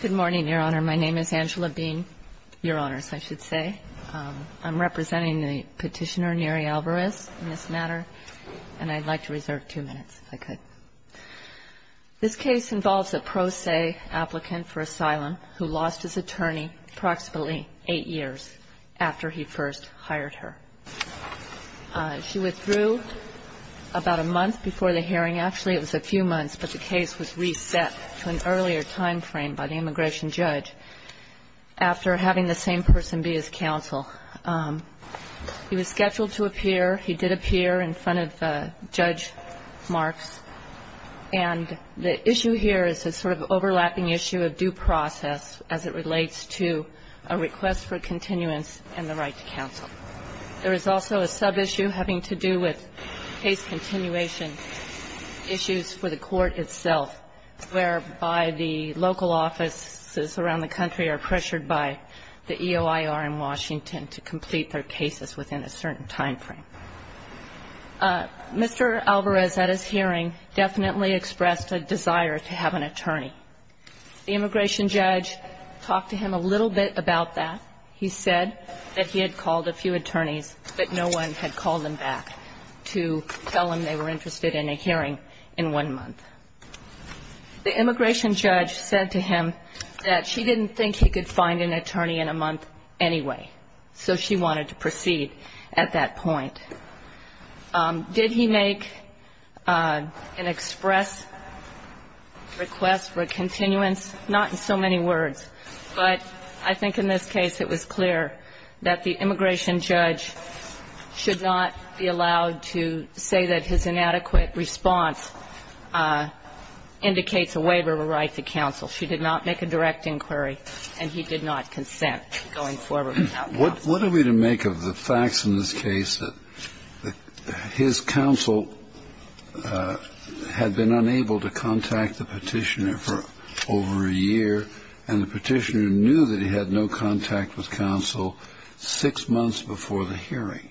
Good morning, Your Honor. My name is Angela Bean, Your Honors, I should say. I'm representing the petitioner, Neri Alvarez, in this matter, and I'd like to reserve two minutes, if I could. This case involves a pro se applicant for asylum who lost his attorney approximately eight years after he first hired her. She withdrew about a month before the hearing. Actually, it was a few months, but the case was reset to an earlier time frame by the immigration judge after having the same person be his counsel. He was scheduled to appear. He did appear in front of Judge Marks, And the issue here is a sort of overlapping issue of due process as it relates to a request for continuance and the right to counsel. There is also a subissue having to do with case continuation issues for the court itself, whereby the local offices around the country are pressured by the EOIR in Washington to complete their cases within a certain time frame. Mr. Alvarez, at his hearing, definitely expressed a desire to have an attorney. The immigration judge talked to him a little bit about that. He said that he had called a few attorneys, but no one had called them back to tell him they were interested in a hearing in one month. The immigration judge said to him that she didn't think he could find an attorney in a month anyway, so she wanted to proceed at that point. Did he make an express request for continuance? Not in so many words, but I think in this case it was clear that the immigration judge should not be allowed to say that his inadequate response indicates a waiver of a right to counsel. She did not make a direct inquiry, and he did not consent going forward without counsel. What are we to make of the facts in this case, that his counsel had been unable to contact the Petitioner for over a year, and the Petitioner knew that he had no contact with counsel six months before the hearing?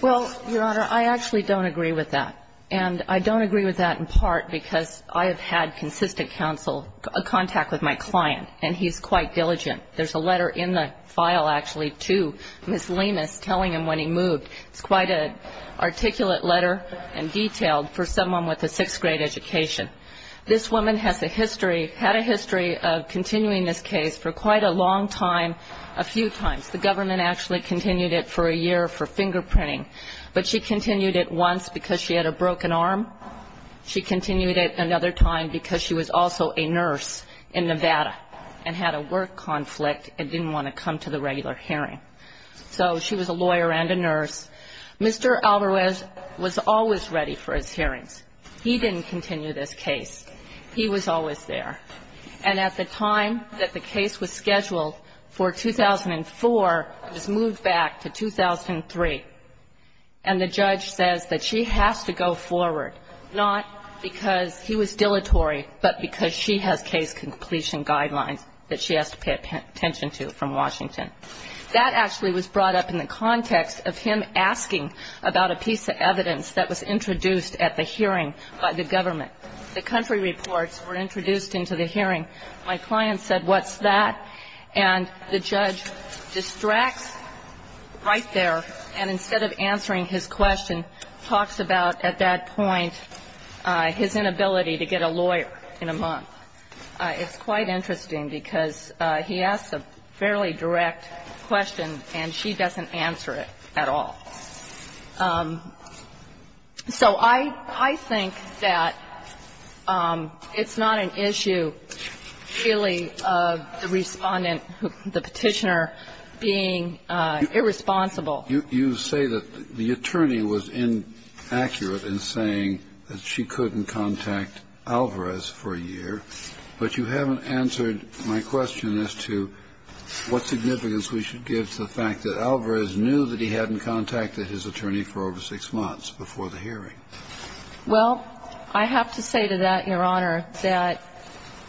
Well, Your Honor, I actually don't agree with that. And I don't agree with that in part because I have had consistent counsel contact with my client, and he's quite diligent. There's a letter in the file actually to Ms. Lemus telling him when he moved. It's quite an articulate letter and detailed for someone with a sixth-grade education. This woman has a history, had a history of continuing this case for quite a long time, a few times. The government actually continued it for a year for fingerprinting, but she continued it once because she had a broken arm. She continued it another time because she was also a nurse in Nevada and had a work conflict and didn't want to come to the regular hearing. So she was a lawyer and a nurse. Mr. Alvarez was always ready for his hearings. He didn't continue this case. He was always there. And at the time that the case was scheduled for 2004, it was moved back to 2003. And the judge says that she has to go forward, not because he was dilatory, but because she has case completion guidelines that she has to pay attention to from Washington. That actually was brought up in the context of him asking about a piece of evidence that was introduced at the hearing by the government. The country reports were introduced into the hearing. My client said, what's that? And the judge distracts right there, and instead of answering his question, talks about at that point his inability to get a lawyer in a month. It's quite interesting because he asks a fairly direct question, and she doesn't answer it at all. So I think that it's not an issue, really, of the Respondent, the Petitioner, being irresponsible. You say that the attorney was inaccurate in saying that she couldn't contact Alvarez for a year, but you haven't answered my question as to what significance we should give to the fact that Alvarez knew that he hadn't contacted his attorney for over six months before the hearing. Well, I have to say to that, Your Honor, that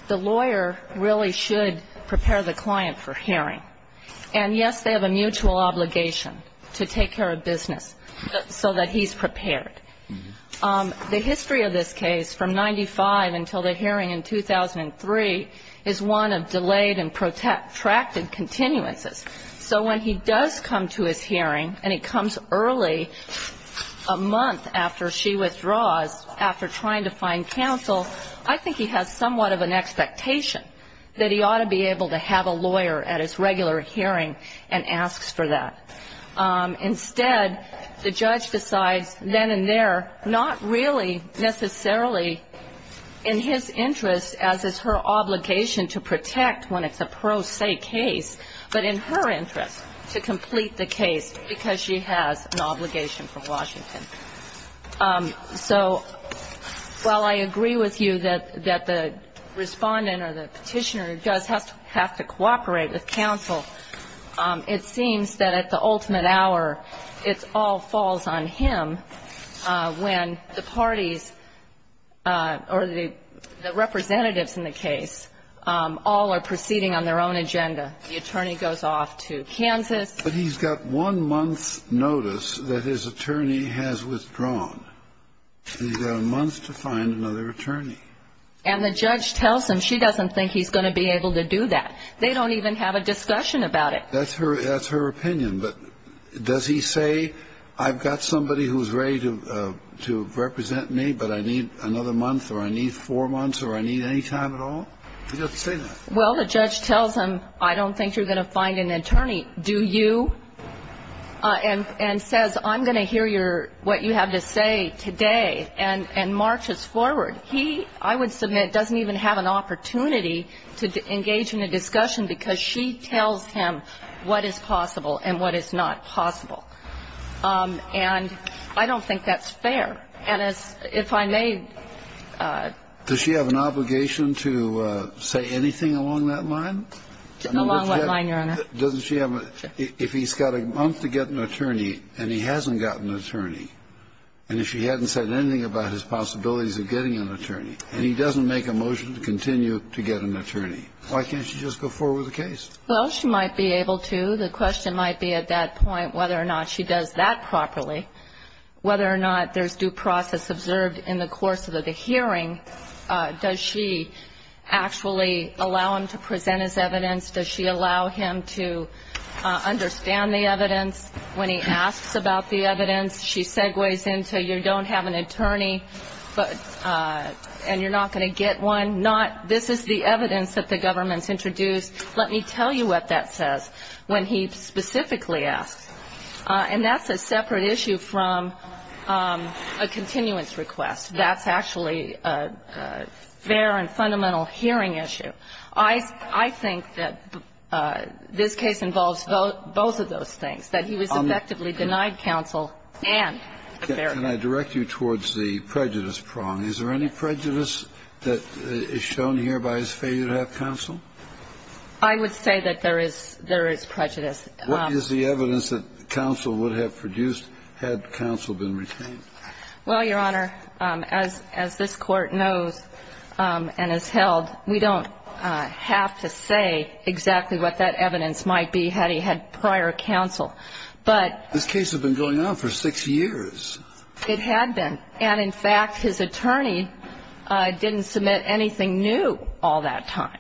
the lawyer really should prepare the client for hearing. And, yes, they have a mutual obligation to take care of business so that he's prepared. The history of this case from 95 until the hearing in 2003 is one of delayed and protracted continuances. So when he does come to his hearing, and he comes early, a month after she withdraws, after trying to find counsel, I think he has somewhat of an expectation that he ought to be able to have a lawyer at his regular hearing and asks for that. Instead, the judge decides then and there, not really necessarily in his interest, as is her obligation to protect when it's a pro se case, but in her interest to complete the case because she has an obligation from Washington. So while I agree with you that the Respondent or the Petitioner does have to cooperate with counsel, it seems that at the ultimate hour it all falls on him when the parties or the representatives in the case all are proceeding on their own agenda. The attorney goes off to Kansas. But he's got one month's notice that his attorney has withdrawn. He's got a month to find another attorney. And the judge tells him she doesn't think he's going to be able to do that. They don't even have a discussion about it. That's her opinion. But does he say, I've got somebody who's ready to represent me, but I need another month or I need four months or I need any time at all? He doesn't say that. Well, the judge tells him, I don't think you're going to find an attorney, do you? And says, I'm going to hear what you have to say today, and marches forward. He, I would submit, doesn't even have an opportunity to engage in a discussion because she tells him what is possible and what is not possible. And I don't think that's fair. And if I may ---- Does she have an obligation to say anything along that line? Along what line, Your Honor? Doesn't she have a ---- If he's got a month to get an attorney and he hasn't got an attorney, and if she hadn't said anything about his possibilities of getting an attorney, and he doesn't make a motion to continue to get an attorney, why can't she just go forward with the case? Well, she might be able to. The question might be at that point whether or not she does that properly, whether or not there's due process observed in the course of the hearing. Does she actually allow him to present his evidence? Does she allow him to understand the evidence when he asks about the evidence? She segues into you don't have an attorney and you're not going to get one. This is the evidence that the government's introduced. Let me tell you what that says when he specifically asks. And that's a separate issue from a continuance request. That's actually a fair and fundamental hearing issue. I think that this case involves both of those things, that he was effectively denied counsel and a fair hearing. Can I direct you towards the prejudice prong? Is there any prejudice that is shown here by his failure to have counsel? I would say that there is prejudice. What is the evidence that counsel would have produced had counsel been retained? Well, Your Honor, as this Court knows and has held, we don't have to say exactly what that evidence might be had he had prior counsel. This case had been going on for six years. It had been. And, in fact, his attorney didn't submit anything new all that time.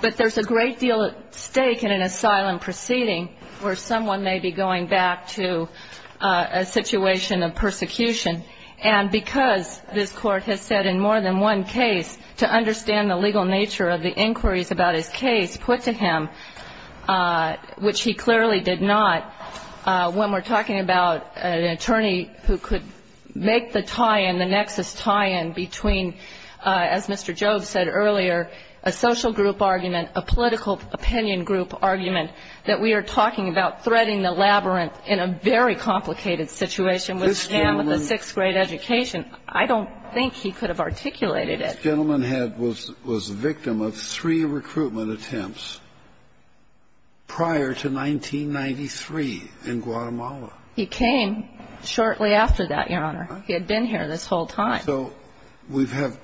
But there's a great deal at stake in an asylum proceeding where someone may be going back to a situation of persecution. And because this Court has said in more than one case to understand the legal nature of the inquiries about his case put to him, which he clearly did not, when we're talking about an attorney who could make the tie-in, the nexus tie-in between, as Mr. Jobes said earlier, a social group argument, a political opinion group argument, that we are talking about threading the labyrinth in a very complicated situation with a man with a sixth-grade education. I don't think he could have articulated it. This gentleman had was a victim of three recruitment attempts prior to 1993 in Guatemala. He came shortly after that, Your Honor. He had been here this whole time. So we have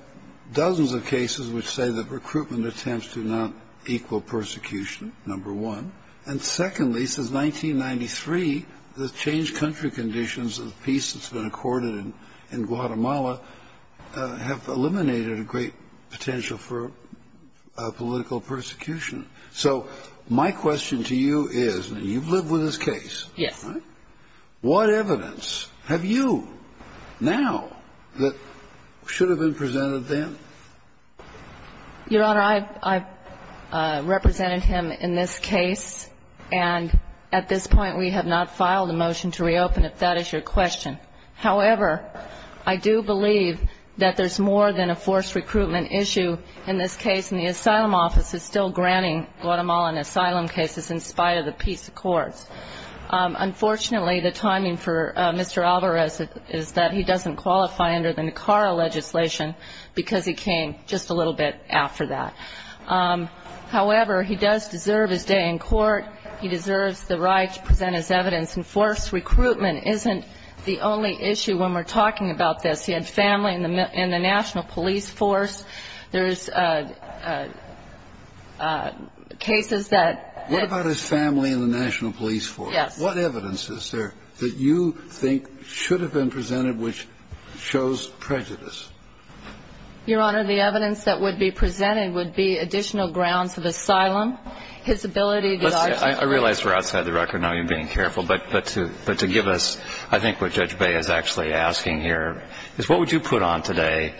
dozens of cases which say that recruitment attempts do not equal persecution, number one. And secondly, since 1993, the changed country conditions of peace that's been accorded in Guatemala have eliminated a great potential for political persecution. So my question to you is, you've lived with this case. Yes. What evidence have you now that should have been presented then? Your Honor, I've represented him in this case. And at this point, we have not filed a motion to reopen, if that is your question. However, I do believe that there's more than a forced recruitment issue in this case, and the asylum office is still granting Guatemalan asylum cases in spite of the peace accords. Unfortunately, the timing for Mr. Alvarez is that he doesn't qualify under the Nicara legislation, because he came just a little bit after that. However, he does deserve his day in court. He deserves the right to present his evidence. And forced recruitment isn't the only issue when we're talking about this. He had family in the national police force. There's cases that ---- What about his family in the national police force? Yes. What evidence is there that you think should have been presented which shows prejudice? Your Honor, the evidence that would be presented would be additional grounds of asylum, his ability to ---- I realize we're outside the record. I know you're being careful. But to give us, I think what Judge Bay is actually asking here is, what would you put on today,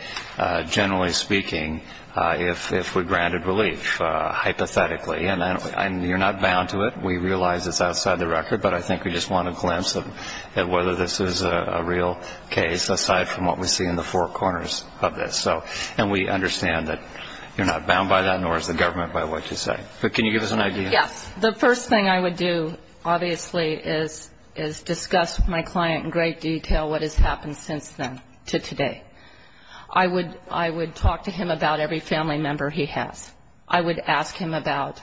generally speaking, if we granted relief, hypothetically? And you're not bound to it. We realize it's outside the record. But I think we just want a glimpse at whether this is a real case, aside from what we see in the four corners of this. And we understand that you're not bound by that, nor is the government by what you say. But can you give us an idea? Yes. The first thing I would do, obviously, is discuss with my client in great detail what has happened since then to today. I would talk to him about every family member he has. I would ask him about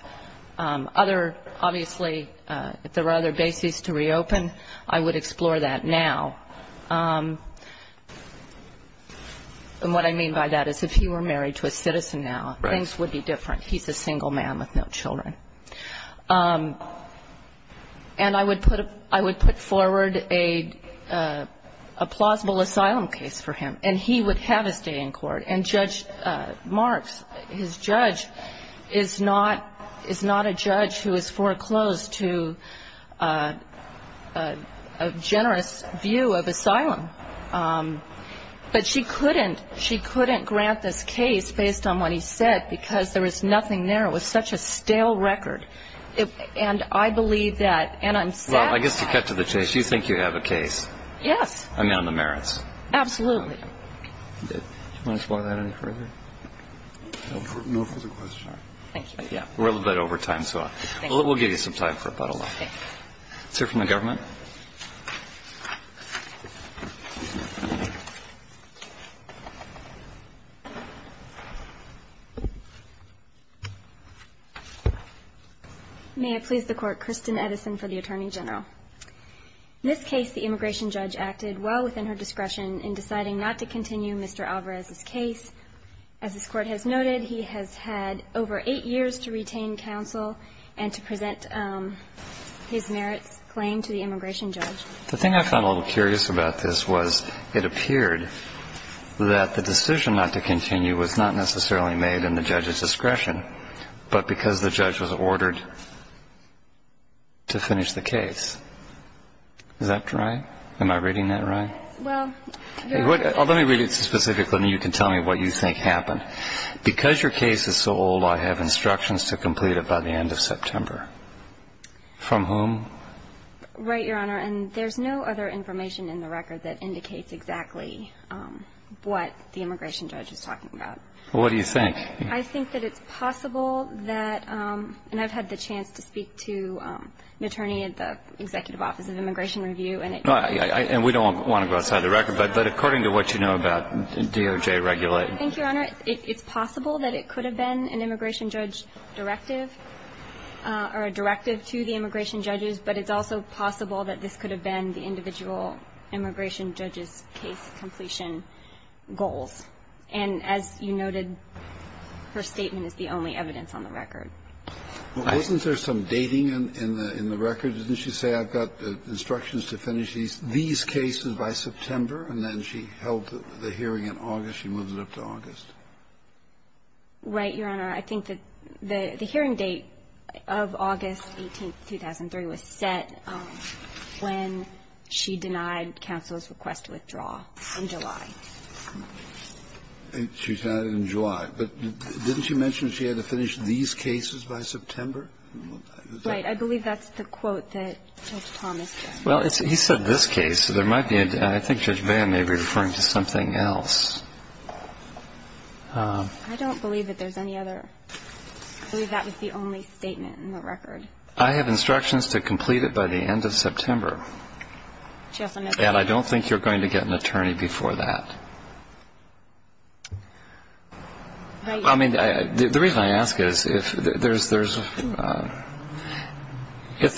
other, obviously, if there were other bases to reopen, I would explore that now. And what I mean by that is if he were married to a citizen now, things would be different. He's a single man with no children. And I would put forward a plausible asylum case for him, and he would have his day in court. And Judge Marks, his judge, is not a judge who is foreclosed to a generous view of asylum. But she couldn't grant this case based on what he said because there was nothing there. It was such a stale record. And I believe that. And I'm sad to say that. Well, I guess to cut to the chase, you think you have a case? Yes. I mean, on the merits. Absolutely. Do you want to explore that any further? No further questions. Thank you. We're a little bit over time, so we'll give you some time for a bottle of wine. Okay. Is there from the government? Yes. May it please the Court, Kristen Edison for the Attorney General. In this case, the immigration judge acted well within her discretion in deciding not to continue Mr. Alvarez's case. As this Court has noted, he has had over eight years to retain counsel and to present his merits claim to the immigration judge. The thing I found a little curious about this was it appeared that the decision not to continue was not necessarily made in the judge's discretion, but because the judge was ordered to finish the case. Is that right? Well, you're right. Let me read it specifically, and you can tell me what you think happened. Because your case is so old, I have instructions to complete it by the end of September. From whom? Right, Your Honor. And there's no other information in the record that indicates exactly what the immigration judge is talking about. Well, what do you think? I think that it's possible that, and I've had the chance to speak to an attorney at the Executive Office of Immigration Review. And we don't want to go outside the record. But according to what you know about DOJ regulation. Thank you, Your Honor. It's possible that it could have been an immigration judge directive or a directive to the immigration judges, but it's also possible that this could have been the individual immigration judge's case completion goals. And as you noted, her statement is the only evidence on the record. Wasn't there some dating in the record? Didn't she say, I've got instructions to finish these cases by September? And then she held the hearing in August. She moved it up to August. Right, Your Honor. I think that the hearing date of August 18, 2003, was set when she denied counsel's request to withdraw in July. She denied it in July. But didn't she mention she had to finish these cases by September? Right. I believe that's the quote that Judge Thomas gave. Well, he said this case. I think Judge Vann may be referring to something else. I don't believe that there's any other. I believe that was the only statement in the record. I have instructions to complete it by the end of September. And I don't think you're going to get an attorney before that. I mean, the reason I ask is if there's the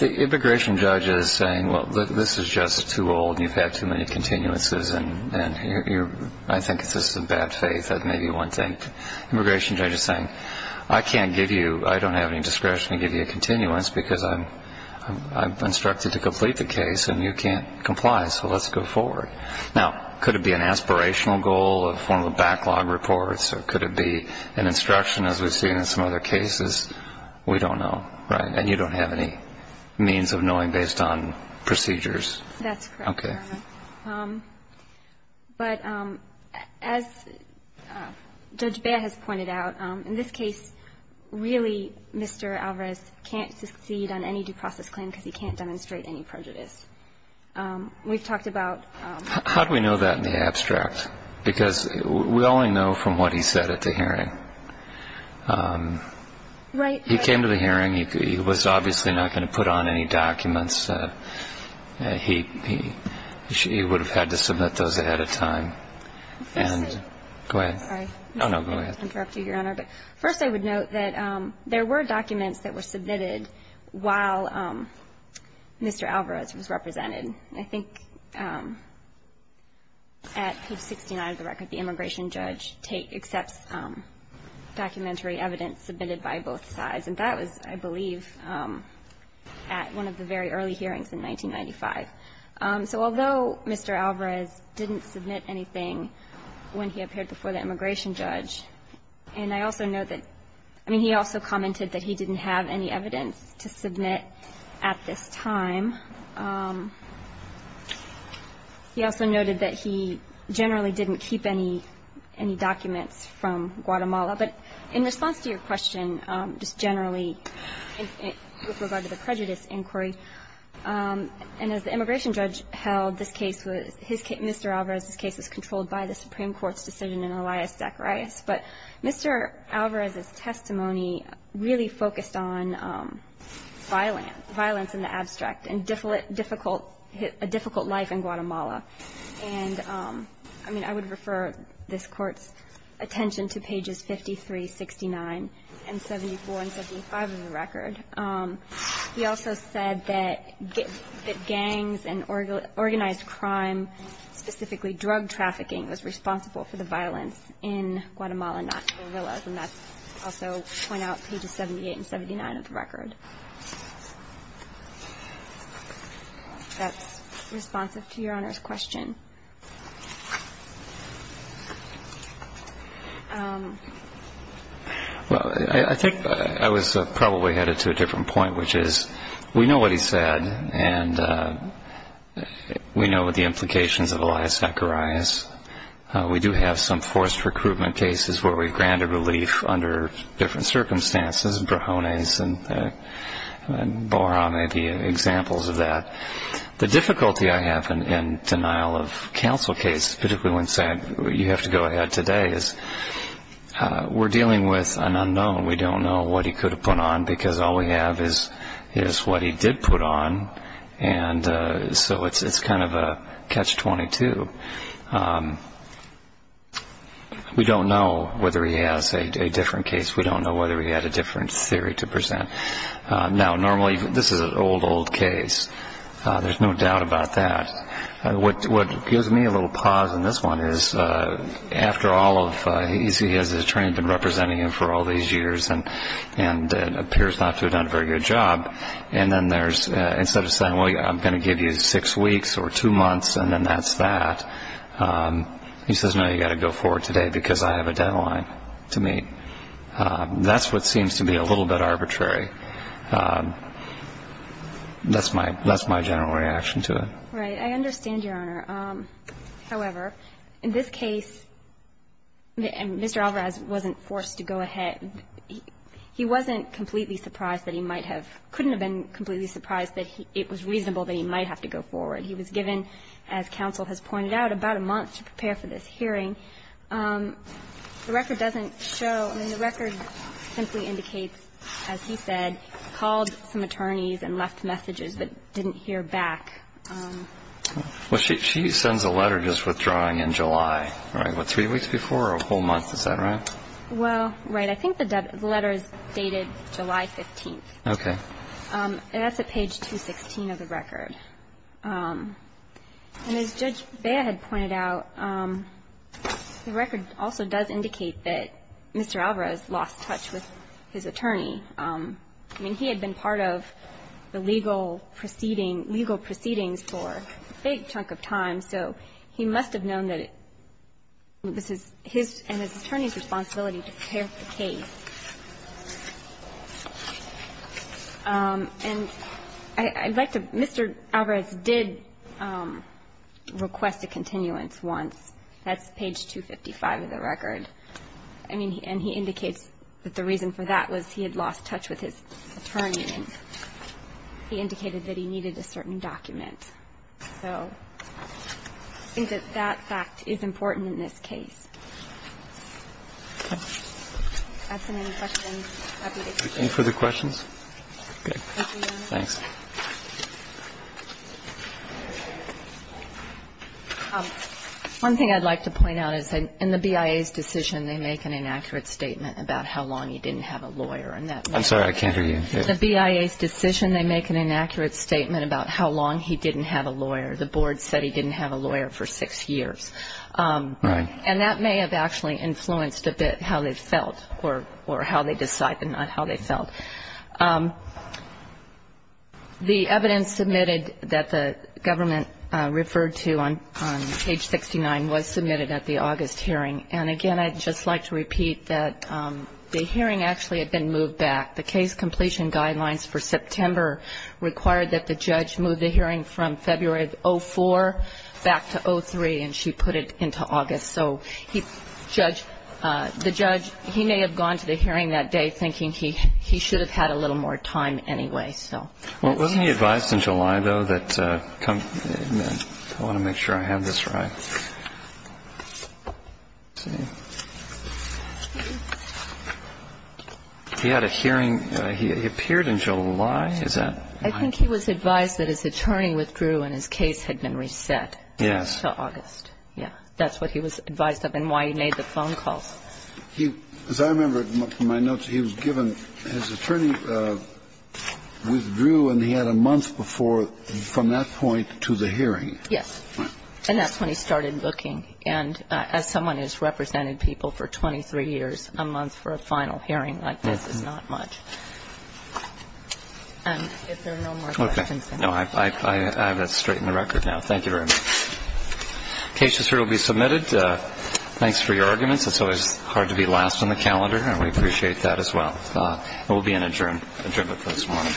immigration judge is saying, well, this is just too old and you've had too many continuances, and I think it's just a bad faith, that may be one thing. Immigration judge is saying, I can't give you, I don't have any discretion to give you a continuance because I'm instructed to complete the case and you can't comply, so let's go forward. Now, could it be an aspirational goal of one of the backlog reports, or could it be an instruction as we've seen in some other cases? We don't know, right? And you don't have any means of knowing based on procedures. That's correct, Your Honor. Okay. But as Judge Baer has pointed out, in this case, really Mr. Alvarez can't succeed on any due process claim because he can't demonstrate any prejudice. We've talked about... How do we know that in the abstract? Because we only know from what he said at the hearing. Right. He came to the hearing. He was obviously not going to put on any documents. He would have had to submit those ahead of time. Go ahead. Sorry. Oh, no, go ahead. First, I would note that there were documents that were submitted while Mr. Alvarez was represented. I think at page 69 of the record, the immigration judge accepts documentary evidence submitted by both sides, and that was, I believe, at one of the very early hearings in 1995. So although Mr. Alvarez didn't submit anything when he appeared before the immigration judge, and I also note that, I mean, he also commented that he didn't have any evidence to submit at this time. He also noted that he generally didn't keep any documents from Guatemala. But in response to your question, just generally with regard to the prejudice inquiry, and as the immigration judge held this case was, Mr. Alvarez's case was controlled by the Supreme Court's decision in Elias Zacharias, but Mr. Alvarez's testimony really focused on violence in the abstract and a difficult life in Guatemala. And, I mean, I would refer this Court's attention to pages 53, 69, and 74, and 75 of the record. He also said that gangs and organized crime, specifically drug trafficking, was responsible for the violence in Guatemala, not guerrillas. And that's also pointed out on pages 78 and 79 of the record. That's responsive to Your Honor's question. Well, I think I was probably headed to a different point, which is we know what he said, and we know the implications of Elias Zacharias. We do have some forced recruitment cases where we've granted relief under different circumstances, brajones and boron may be examples of that. The difficulty I have in denial of counsel cases, particularly when saying you have to go ahead today, is we're dealing with an unknown. We don't know what he could have put on, because all we have is what he did put on, and so it's kind of a catch-22. We don't know whether he has a different case. We don't know whether he had a different theory to present. Now, normally, this is an old, old case. There's no doubt about that. What gives me a little pause in this one is, after all of, he has his attorney representing him for all these years and appears not to have done a very good job, and then there's, instead of saying, well, I'm going to give you six weeks or two months, and then that's that, he says, no, you've got to go forward today because I have a deadline to meet. That's what seems to be a little bit arbitrary. That's my general reaction to it. Right. I understand, Your Honor. However, in this case, Mr. Alvarez wasn't forced to go ahead. He wasn't completely surprised that he might have – couldn't have been completely surprised that it was reasonable that he might have to go forward. He was given, as counsel has pointed out, about a month to prepare for this hearing. The record doesn't show – I mean, the record simply indicates, as he said, called some attorneys and left messages but didn't hear back. Well, she sends a letter just withdrawing in July, right? What, three weeks before or a whole month? Is that right? Well, right. I think the letter is dated July 15th. Okay. And that's at page 216 of the record. And as Judge Bea had pointed out, the record also does indicate that Mr. Alvarez lost touch with his attorney. I mean, he had been part of the legal proceeding – legal proceedings for a big chunk of time, so he must have known that this is his and his attorney's responsibility to prepare the case. And I'd like to – Mr. Alvarez did request a continuance once. That's page 255 of the record. I mean, and he indicates that the reason for that was he had lost touch with his attorney, and he indicated that he needed a certain document. So I think that that fact is important in this case. Okay. If I have so many questions, I'd be happy to take them. Any further questions? Okay. Thank you, Your Honor. Thanks. One thing I'd like to point out is in the BIA's decision, they make an inaccurate statement about how long he didn't have a lawyer. I'm sorry. I can't hear you. In the BIA's decision, they make an inaccurate statement about how long he didn't have a lawyer. The board said he didn't have a lawyer for six years. Right. And that may have actually influenced a bit how they felt or how they decided, not how they felt. The evidence submitted that the government referred to on page 69 was submitted at the August hearing. And, again, I'd just like to repeat that the hearing actually had been moved back. The case completion guidelines for September required that the judge move the hearing from February of 2004 back to 2003, and she put it into August. So the judge, he may have gone to the hearing that day thinking he should have had a little more time anyway. Wasn't he advised in July, though, that he had a hearing? He appeared in July. I think he was advised that his attorney withdrew and his case had been reset until August. Yes. That's what he was advised of and why he made the phone calls. As I remember from my notes, he was given his attorney withdrew and he had a month before from that point to the hearing. Yes. And that's when he started looking. And as someone who's represented people for 23 years, a month for a final hearing like this is not much. If there are no more questions. No, I have it straight in the record now. Thank you very much. The case is here to be submitted. Thanks for your arguments. It's always hard to be last on the calendar, and we appreciate that as well. We'll be in adjournment this morning.